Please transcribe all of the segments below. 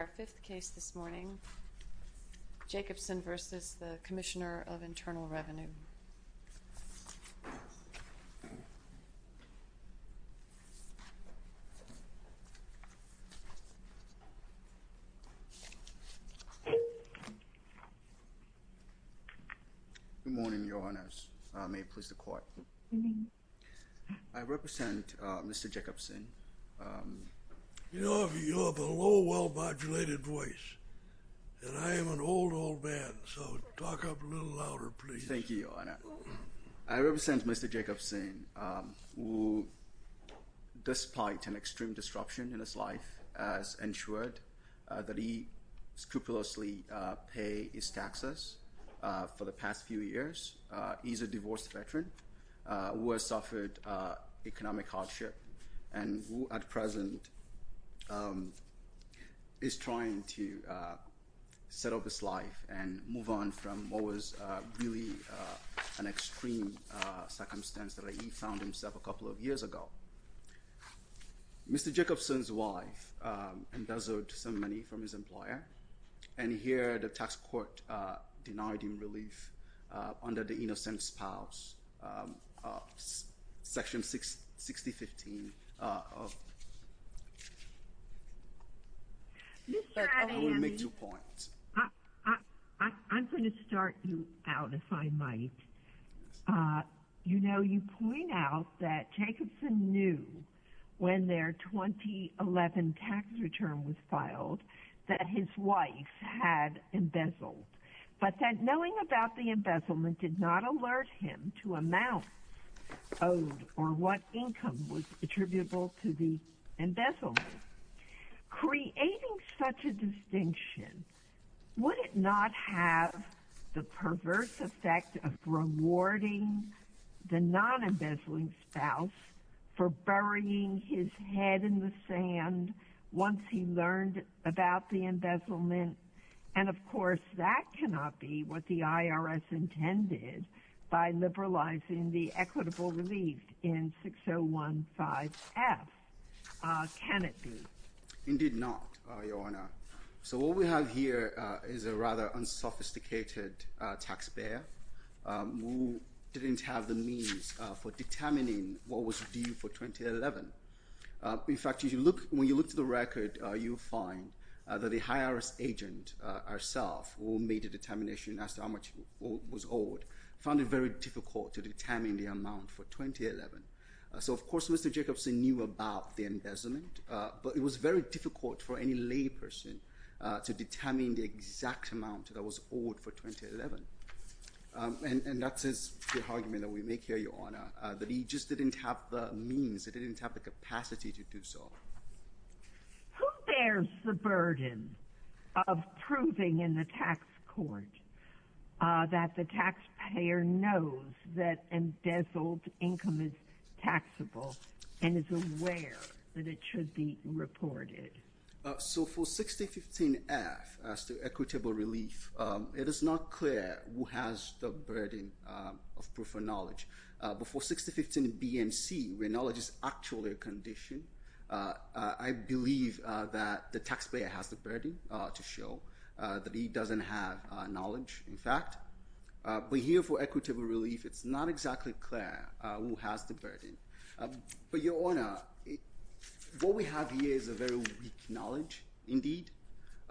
Our fifth case this morning, Jacobsen v. The Commissioner of Internal Revenue. Good morning, Your Honors. May it please the Court. Good morning. I represent Mr. Jacobsen. You have a low, well-modulated voice. And I am an old, old man, so talk up a little louder, please. Thank you, Your Honor. I represent Mr. Jacobsen, who, despite an extreme disruption in his life, has ensured that he scrupulously pays his taxes for the past few years. He's a divorced veteran who has suffered economic hardship. And who, at present, is trying to set up his life and move on from what was really an extreme circumstance that he found himself in a couple of years ago. Mr. Jacobsen's wife embezzled some money from his employer. And here, the tax court denied him relief under the Innocent Spouse, Section 6015. I will make two points. I'm going to start you out, if I might. You know, you point out that Jacobsen knew when their 2011 tax return was filed that his wife had embezzled, but that knowing about the embezzlement did not alert him to amount owed or what income was attributable to the embezzlement. Creating such a distinction, would it not have the perverse effect of rewarding the non-embezzling spouse for burying his head in the sand once he learned about the embezzlement? And, of course, that cannot be what the IRS intended by liberalizing the equitable relief in 6015F. Can it be? Indeed not, Your Honor. So what we have here is a rather unsophisticated taxpayer who didn't have the means for determining what was due for 2011. In fact, when you look at the record, you'll find that the high-IRS agent herself, who made a determination as to how much was owed, found it very difficult to determine the amount for 2011. So, of course, Mr. Jacobsen knew about the embezzlement, but it was very difficult for any layperson to determine the exact amount that was owed for 2011. And that's the argument that we make here, Your Honor, that he just didn't have the means, he didn't have the capacity to do so. Who bears the burden of proving in the tax court that the taxpayer knows that embezzled income is taxable and is aware that it should be reported? So for 6015F, as to equitable relief, it is not clear who has the burden of proof of knowledge. But for 6015B and C, where knowledge is actually a condition, I believe that the taxpayer has the burden to show that he doesn't have knowledge, in fact. But here for equitable relief, it's not exactly clear who has the burden. But, Your Honor, what we have here is a very weak knowledge, indeed.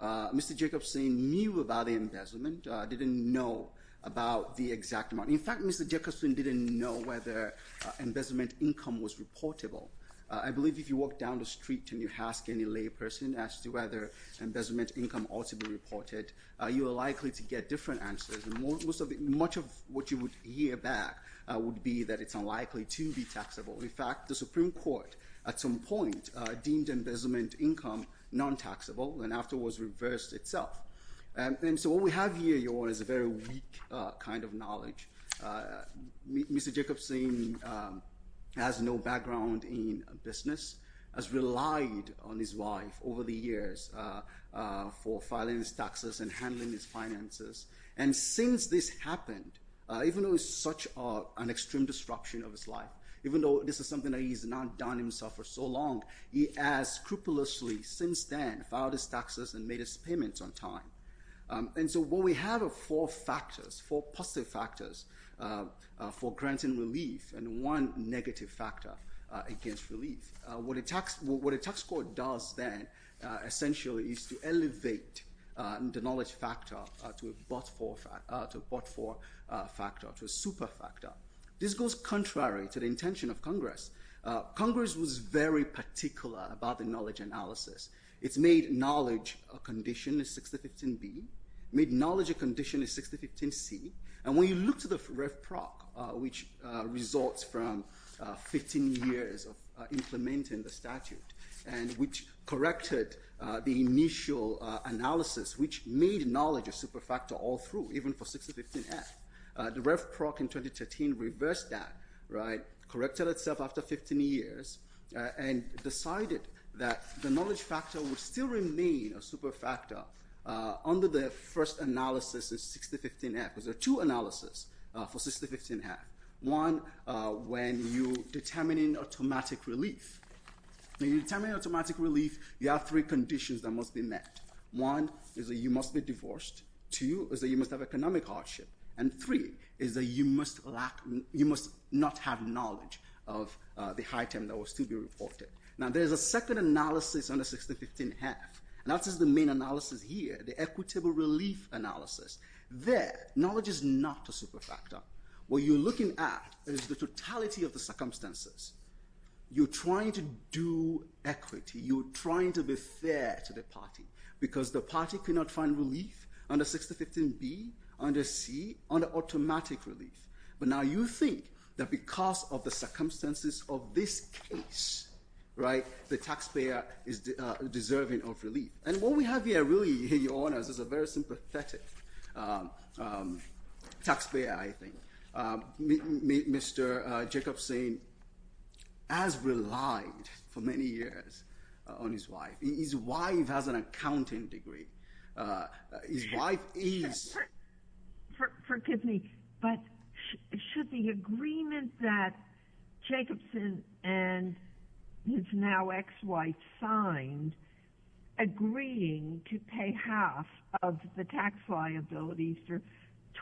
Mr. Jacobsen knew about the embezzlement, didn't know about the exact amount. In fact, Mr. Jacobsen didn't know whether embezzlement income was reportable. I believe if you walk down the street and you ask any layperson as to whether embezzlement income ought to be reported, you are likely to get different answers. Much of what you would hear back would be that it's unlikely to be taxable. In fact, the Supreme Court at some point deemed embezzlement income non-taxable and afterwards reversed itself. And so what we have here, Your Honor, is a very weak kind of knowledge. Mr. Jacobsen has no background in business, has relied on his wife over the years for filing his taxes and handling his finances, and since this happened, even though it's such an extreme disruption of his life, even though this is something that he's not done himself for so long, he has scrupulously since then filed his taxes and made his payments on time. And so what we have are four positive factors for granting relief and one negative factor against relief. What a tax court does then, essentially, is to elevate the knowledge factor to a but-for factor, to a super factor. This goes contrary to the intention of Congress. Congress was very particular about the knowledge analysis. It's made knowledge a condition in 6015B, made knowledge a condition in 6015C, and when you look to the Rev. Prock, which resorts from 15 years of implementing the statute and which corrected the initial analysis, which made knowledge a super factor all through, even for 6015F, the Rev. Prock in 2013 reversed that, right, corrected itself after 15 years and decided that the knowledge factor would still remain a super factor under the first analysis in 6015F. There are two analyses for 6015F. One, when you're determining automatic relief. When you're determining automatic relief, you have three conditions that must be met. One is that you must be divorced. Two is that you must have economic hardship. And three is that you must not have knowledge of the high term that was to be reported. Now, there's a second analysis under 6015F, and that is the main analysis here, the equitable relief analysis. There, knowledge is not a super factor. What you're looking at is the totality of the circumstances. You're trying to do equity. You're trying to be fair to the party because the party cannot find relief under 6015B, under C, under automatic relief. But now you think that because of the circumstances of this case, right, the taxpayer is deserving of relief. And what we have here really, Your Honors, is a very sympathetic taxpayer, I think. Mr. Jacobson has relied for many years on his wife. His wife has an accounting degree. His wife is... Forgive me, but should the agreement that Jacobson and his now ex-wife signed, agreeing to pay half of the tax liabilities for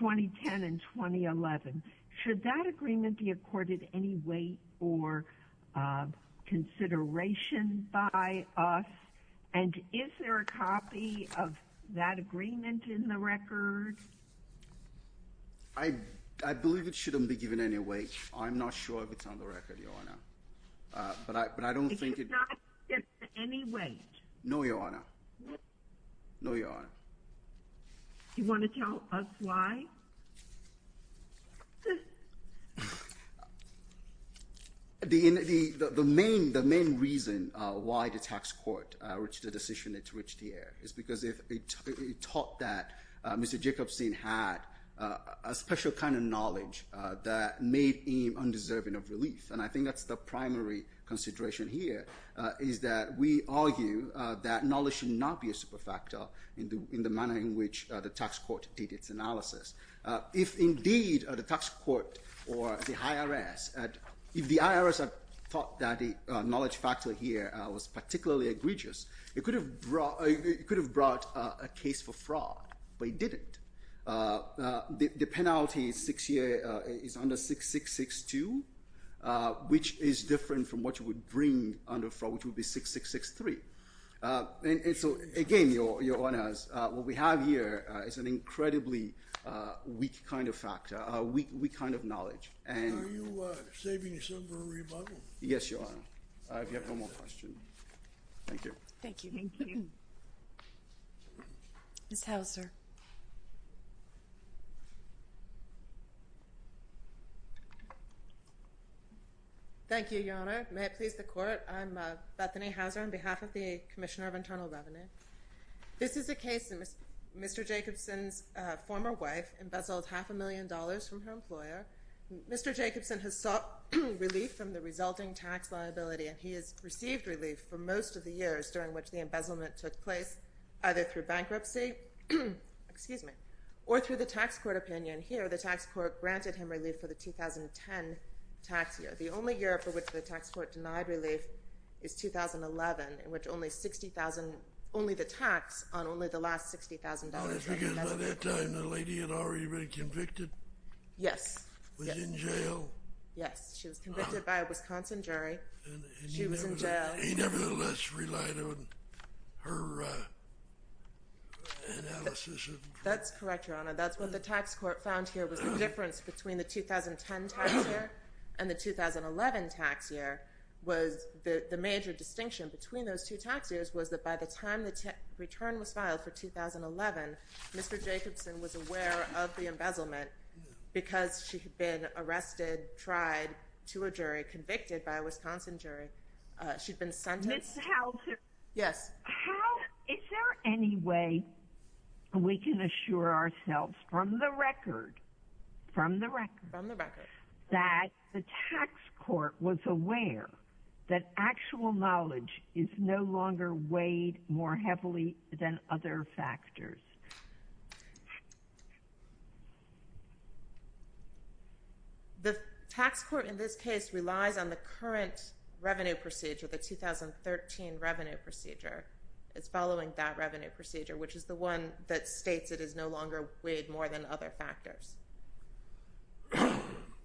2010 and 2011, should that agreement be accorded any weight or consideration by us? And is there a copy of that agreement in the record? I believe it shouldn't be given any weight. I'm not sure if it's on the record, Your Honor. But I don't think it... It's not given any weight? No, Your Honor. No, Your Honor. Do you want to tell us why? The main reason why the tax court reached the decision it reached here is because it taught that Mr. Jacobson had a special kind of knowledge that made him undeserving of relief. And I think that's the primary consideration here, is that we argue that knowledge should not be a superfactor in the manner in which the tax court did its analysis. If indeed the tax court or the IRS, if the IRS had thought that the knowledge factor here was particularly egregious, it could have brought a case for fraud, but it didn't. The penalty is under 6662, which is different from what you would bring under fraud, which would be 6663. And so, again, Your Honor, what we have here is an incredibly weak kind of factor, a weak kind of knowledge. Are you saving yourself for a rebuttal? Yes, Your Honor, if you have no more questions. Thank you. Thank you. Ms. Hauser. Thank you, Your Honor. May it please the Court, I'm Bethany Hauser on behalf of the Commissioner of Internal Revenue. This is a case in which Mr. Jacobson's former wife embezzled half a million dollars from her employer. Mr. Jacobson has sought relief from the resulting tax liability, and he has received relief for most of the years during which the embezzlement took place, either through bankruptcy or through the tax court opinion. Here, the tax court granted him relief for the 2010 tax year, but the only year for which the tax court denied relief is 2011, in which only the tax on only the last $60,000 was embezzled. By that time, the lady had already been convicted? Yes. Was in jail? Yes, she was convicted by a Wisconsin jury. She was in jail. He nevertheless relied on her analysis. That's correct, Your Honor. That's what the tax court found here was the difference between the 2010 tax year and the 2011 tax year was the major distinction between those two tax years was that by the time the return was filed for 2011, Mr. Jacobson was aware of the embezzlement because she had been arrested, tried to a jury, convicted by a Wisconsin jury. She'd been sentenced. Ms. Hauser. Yes. Is there any way we can assure ourselves from the record that the tax court was aware that actual knowledge is no longer weighed more heavily than other factors? The tax court in this case relies on the current revenue procedure, the 2013 revenue procedure. It's following that revenue procedure, which is the one that states it is no longer weighed more than other factors.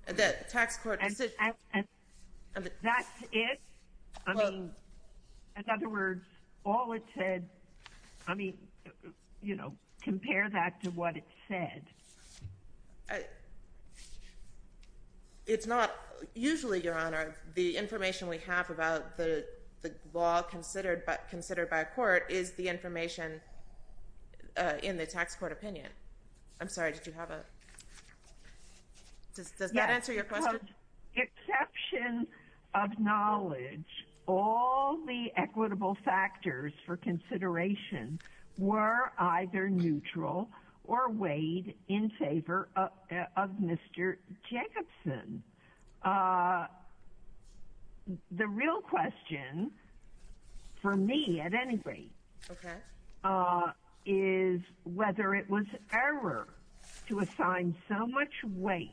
That's it? In other words, all it said, compare that to what it said. Usually, Your Honor, the information we have about the law considered by a court is the information in the tax court opinion. I'm sorry. Did you have a... Does that answer your question? Exception of knowledge, all the equitable factors for consideration were either neutral or weighed in favor of Mr. Jacobson. The real question for me at any rate is whether it was error to assign so much weight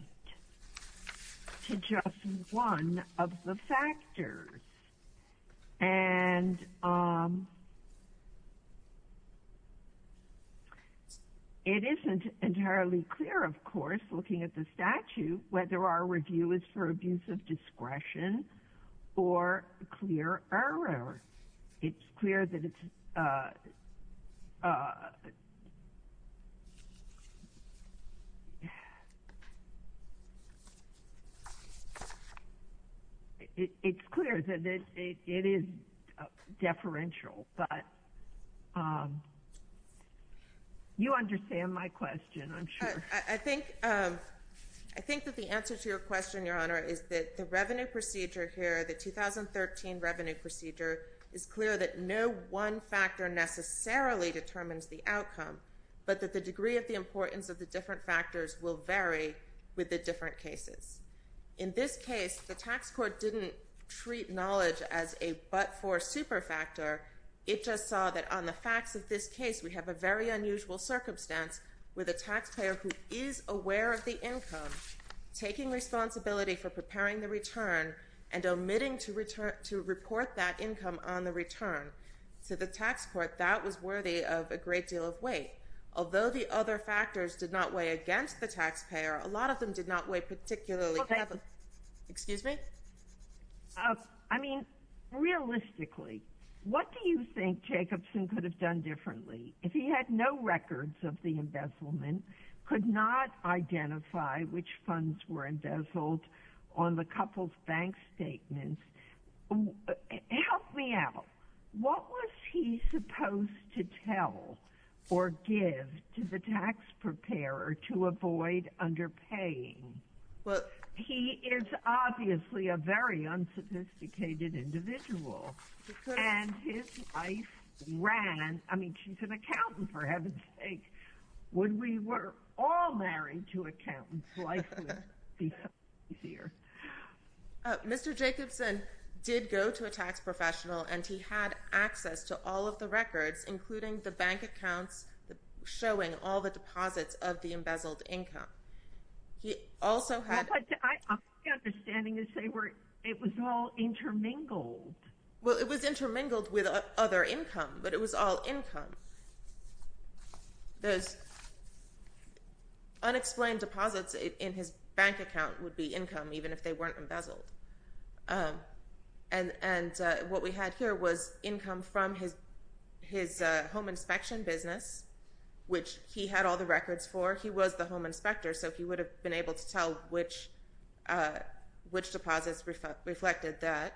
to just one of the factors. And it isn't entirely clear, of course, looking at the statute, whether our review is for abuse of discretion or clear error. It's clear that it's... It's clear that it is deferential, but you understand my question, I'm sure. I think that the answer to your question, Your Honor, is that the revenue procedure here, the 2013 revenue procedure, is clear that no one factor necessarily determines the outcome, but that the degree of the importance of the different factors will vary with the different cases. In this case, the tax court didn't treat knowledge as a but-for superfactor. It just saw that on the facts of this case, we have a very unusual circumstance with a taxpayer who is aware of the income, taking responsibility for preparing the return, and omitting to report that income on the return to the tax court. That was worthy of a great deal of weight. Although the other factors did not weigh against the taxpayer, a lot of them did not weigh particularly heavily. Excuse me? I mean, realistically, what do you think Jacobson could have done differently if he had no to identify which funds were embezzled on the couple's bank statements? Help me out. What was he supposed to tell or give to the tax preparer to avoid underpaying? He is obviously a very unsophisticated individual. And his wife ran, I mean, she's an accountant, for heaven's sake. When we were all married to accountants, life would be so much easier. Mr. Jacobson did go to a tax professional, and he had access to all of the records, including the bank accounts, showing all the deposits of the embezzled income. My understanding is it was all intermingled. Well, it was intermingled with other income, but it was all income. Those unexplained deposits in his bank account would be income, even if they weren't embezzled. And what we had here was income from his home inspection business, which he had all the records for. He was the home inspector, so he would have been able to tell which deposits reflected that.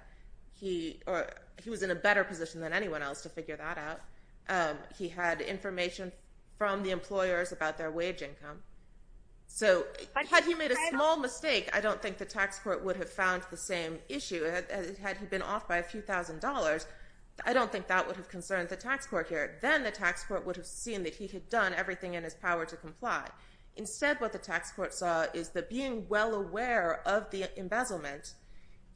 He was in a better position than anyone else to figure that out. He had information from the employers about their wage income. So had he made a small mistake, I don't think the tax court would have found the same issue. Had he been off by a few thousand dollars, I don't think that would have concerned the tax court here. Then the tax court would have seen that he had done everything in his power to comply. Instead, what the tax court saw is that being well aware of the embezzlement,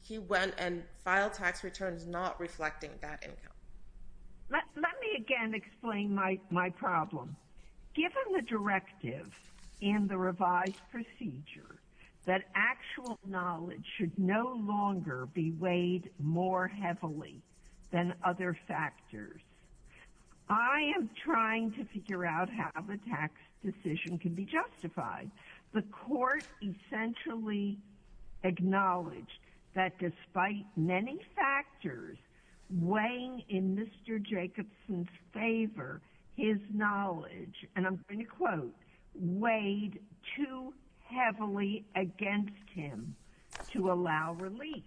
he went and filed tax returns not reflecting that income. Let me again explain my problem. Given the directive in the revised procedure that actual knowledge should no longer be weighed more heavily than other factors, I am trying to figure out how the tax decision can be justified. The court essentially acknowledged that despite many factors, weighing in Mr. Jacobson's favor, his knowledge, and I'm going to quote, weighed too heavily against him to allow relief.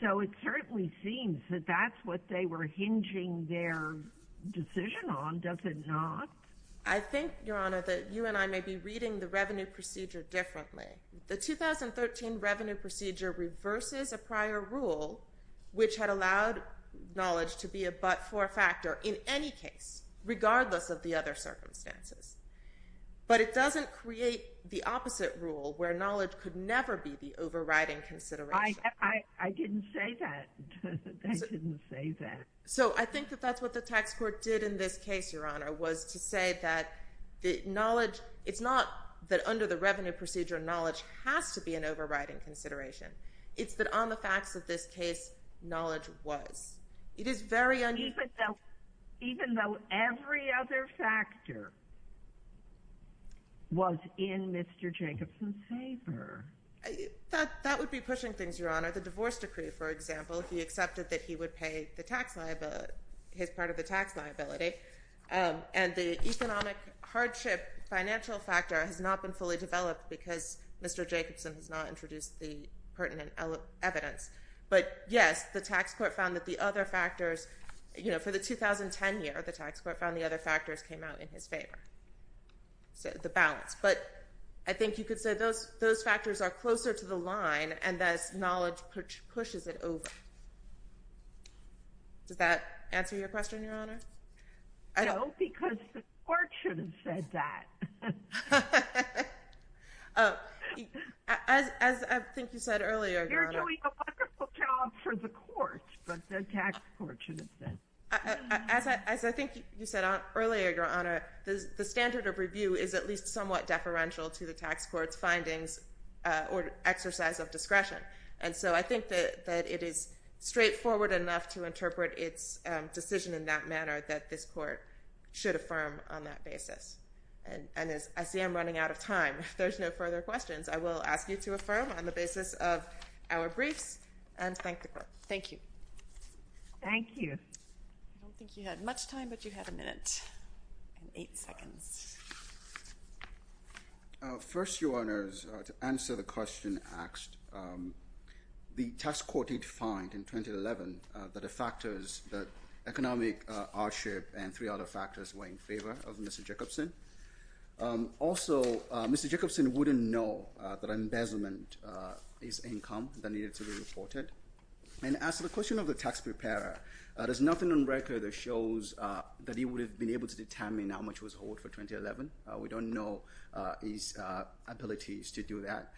So it certainly seems that that's what they were hinging their decision on, does it not? I think, Your Honor, that you and I may be reading the revenue procedure differently. The 2013 revenue procedure reverses a prior rule which had allowed knowledge to be a but for a factor in any case, regardless of the other circumstances. But it doesn't create the opposite rule where knowledge could never be the overriding consideration. I didn't say that. I didn't say that. So I think that that's what the tax court did in this case, Your Honor, was to say that the knowledge, it's not that under the revenue procedure, knowledge has to be an overriding consideration. It's that on the facts of this case, knowledge was. It is very unusual. Even though every other factor was in Mr. Jacobson's favor. That would be pushing things, Your Honor. The divorce decree, for example, if he accepted that he would pay his part of the tax liability and the economic hardship financial factor has not been fully developed because Mr. Jacobson has not introduced the pertinent evidence. But yes, the tax court found that the other factors, you know, for the 2010 year, the tax court found the other factors came out in his favor. So the balance. But I think you could say those factors are closer to the line and thus knowledge pushes it over. Does that answer your question, Your Honor? No, because the court should have said that. As I think you said earlier, Your Honor. They're doing a wonderful job for the court, but the tax court shouldn't say. As I think you said earlier, Your Honor, the standard of review is at least somewhat deferential to the tax court's findings or exercise of discretion. And so I think that it is straightforward enough to interpret its decision in that manner that this court should affirm on that basis. And I see I'm running out of time. If there's no further questions, I will ask you to affirm on the basis of our briefs and thank the court. Thank you. Thank you. I don't think you had much time, but you had a minute and eight seconds. First, Your Honors, to answer the question asked, the tax court did find in 2011 that the factors, the economic hardship and three other factors were in favor of Mr. Jacobson. Also, Mr. Jacobson wouldn't know that embezzlement is income that needed to be reported. And as to the question of the tax preparer, there's nothing on record that shows that he would have been able to determine how much was owed for 2011. We don't know his abilities to do that.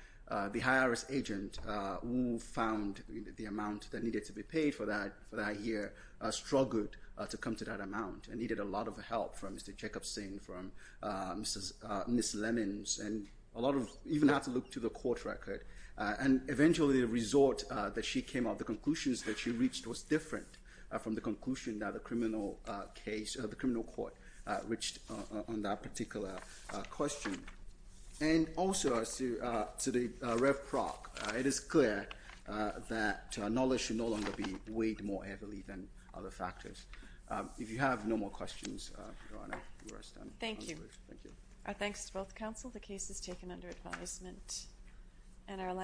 The high-risk agent who found the amount that needed to be paid for that year struggled to come to that amount and needed a lot of help from Mr. Jacobson, from Ms. Lemons, and even had to look to the court record. And eventually the resort that she came up with, the conclusions that she reached, was different from the conclusion that the criminal court reached on that particular question. And also, as to the rev proc, it is clear that knowledge should no longer be weighed more heavily than other factors. If you have no more questions, Your Honor, we're done. Thank you. Thank you. Our thanks to both counsel. The case is taken under advisement.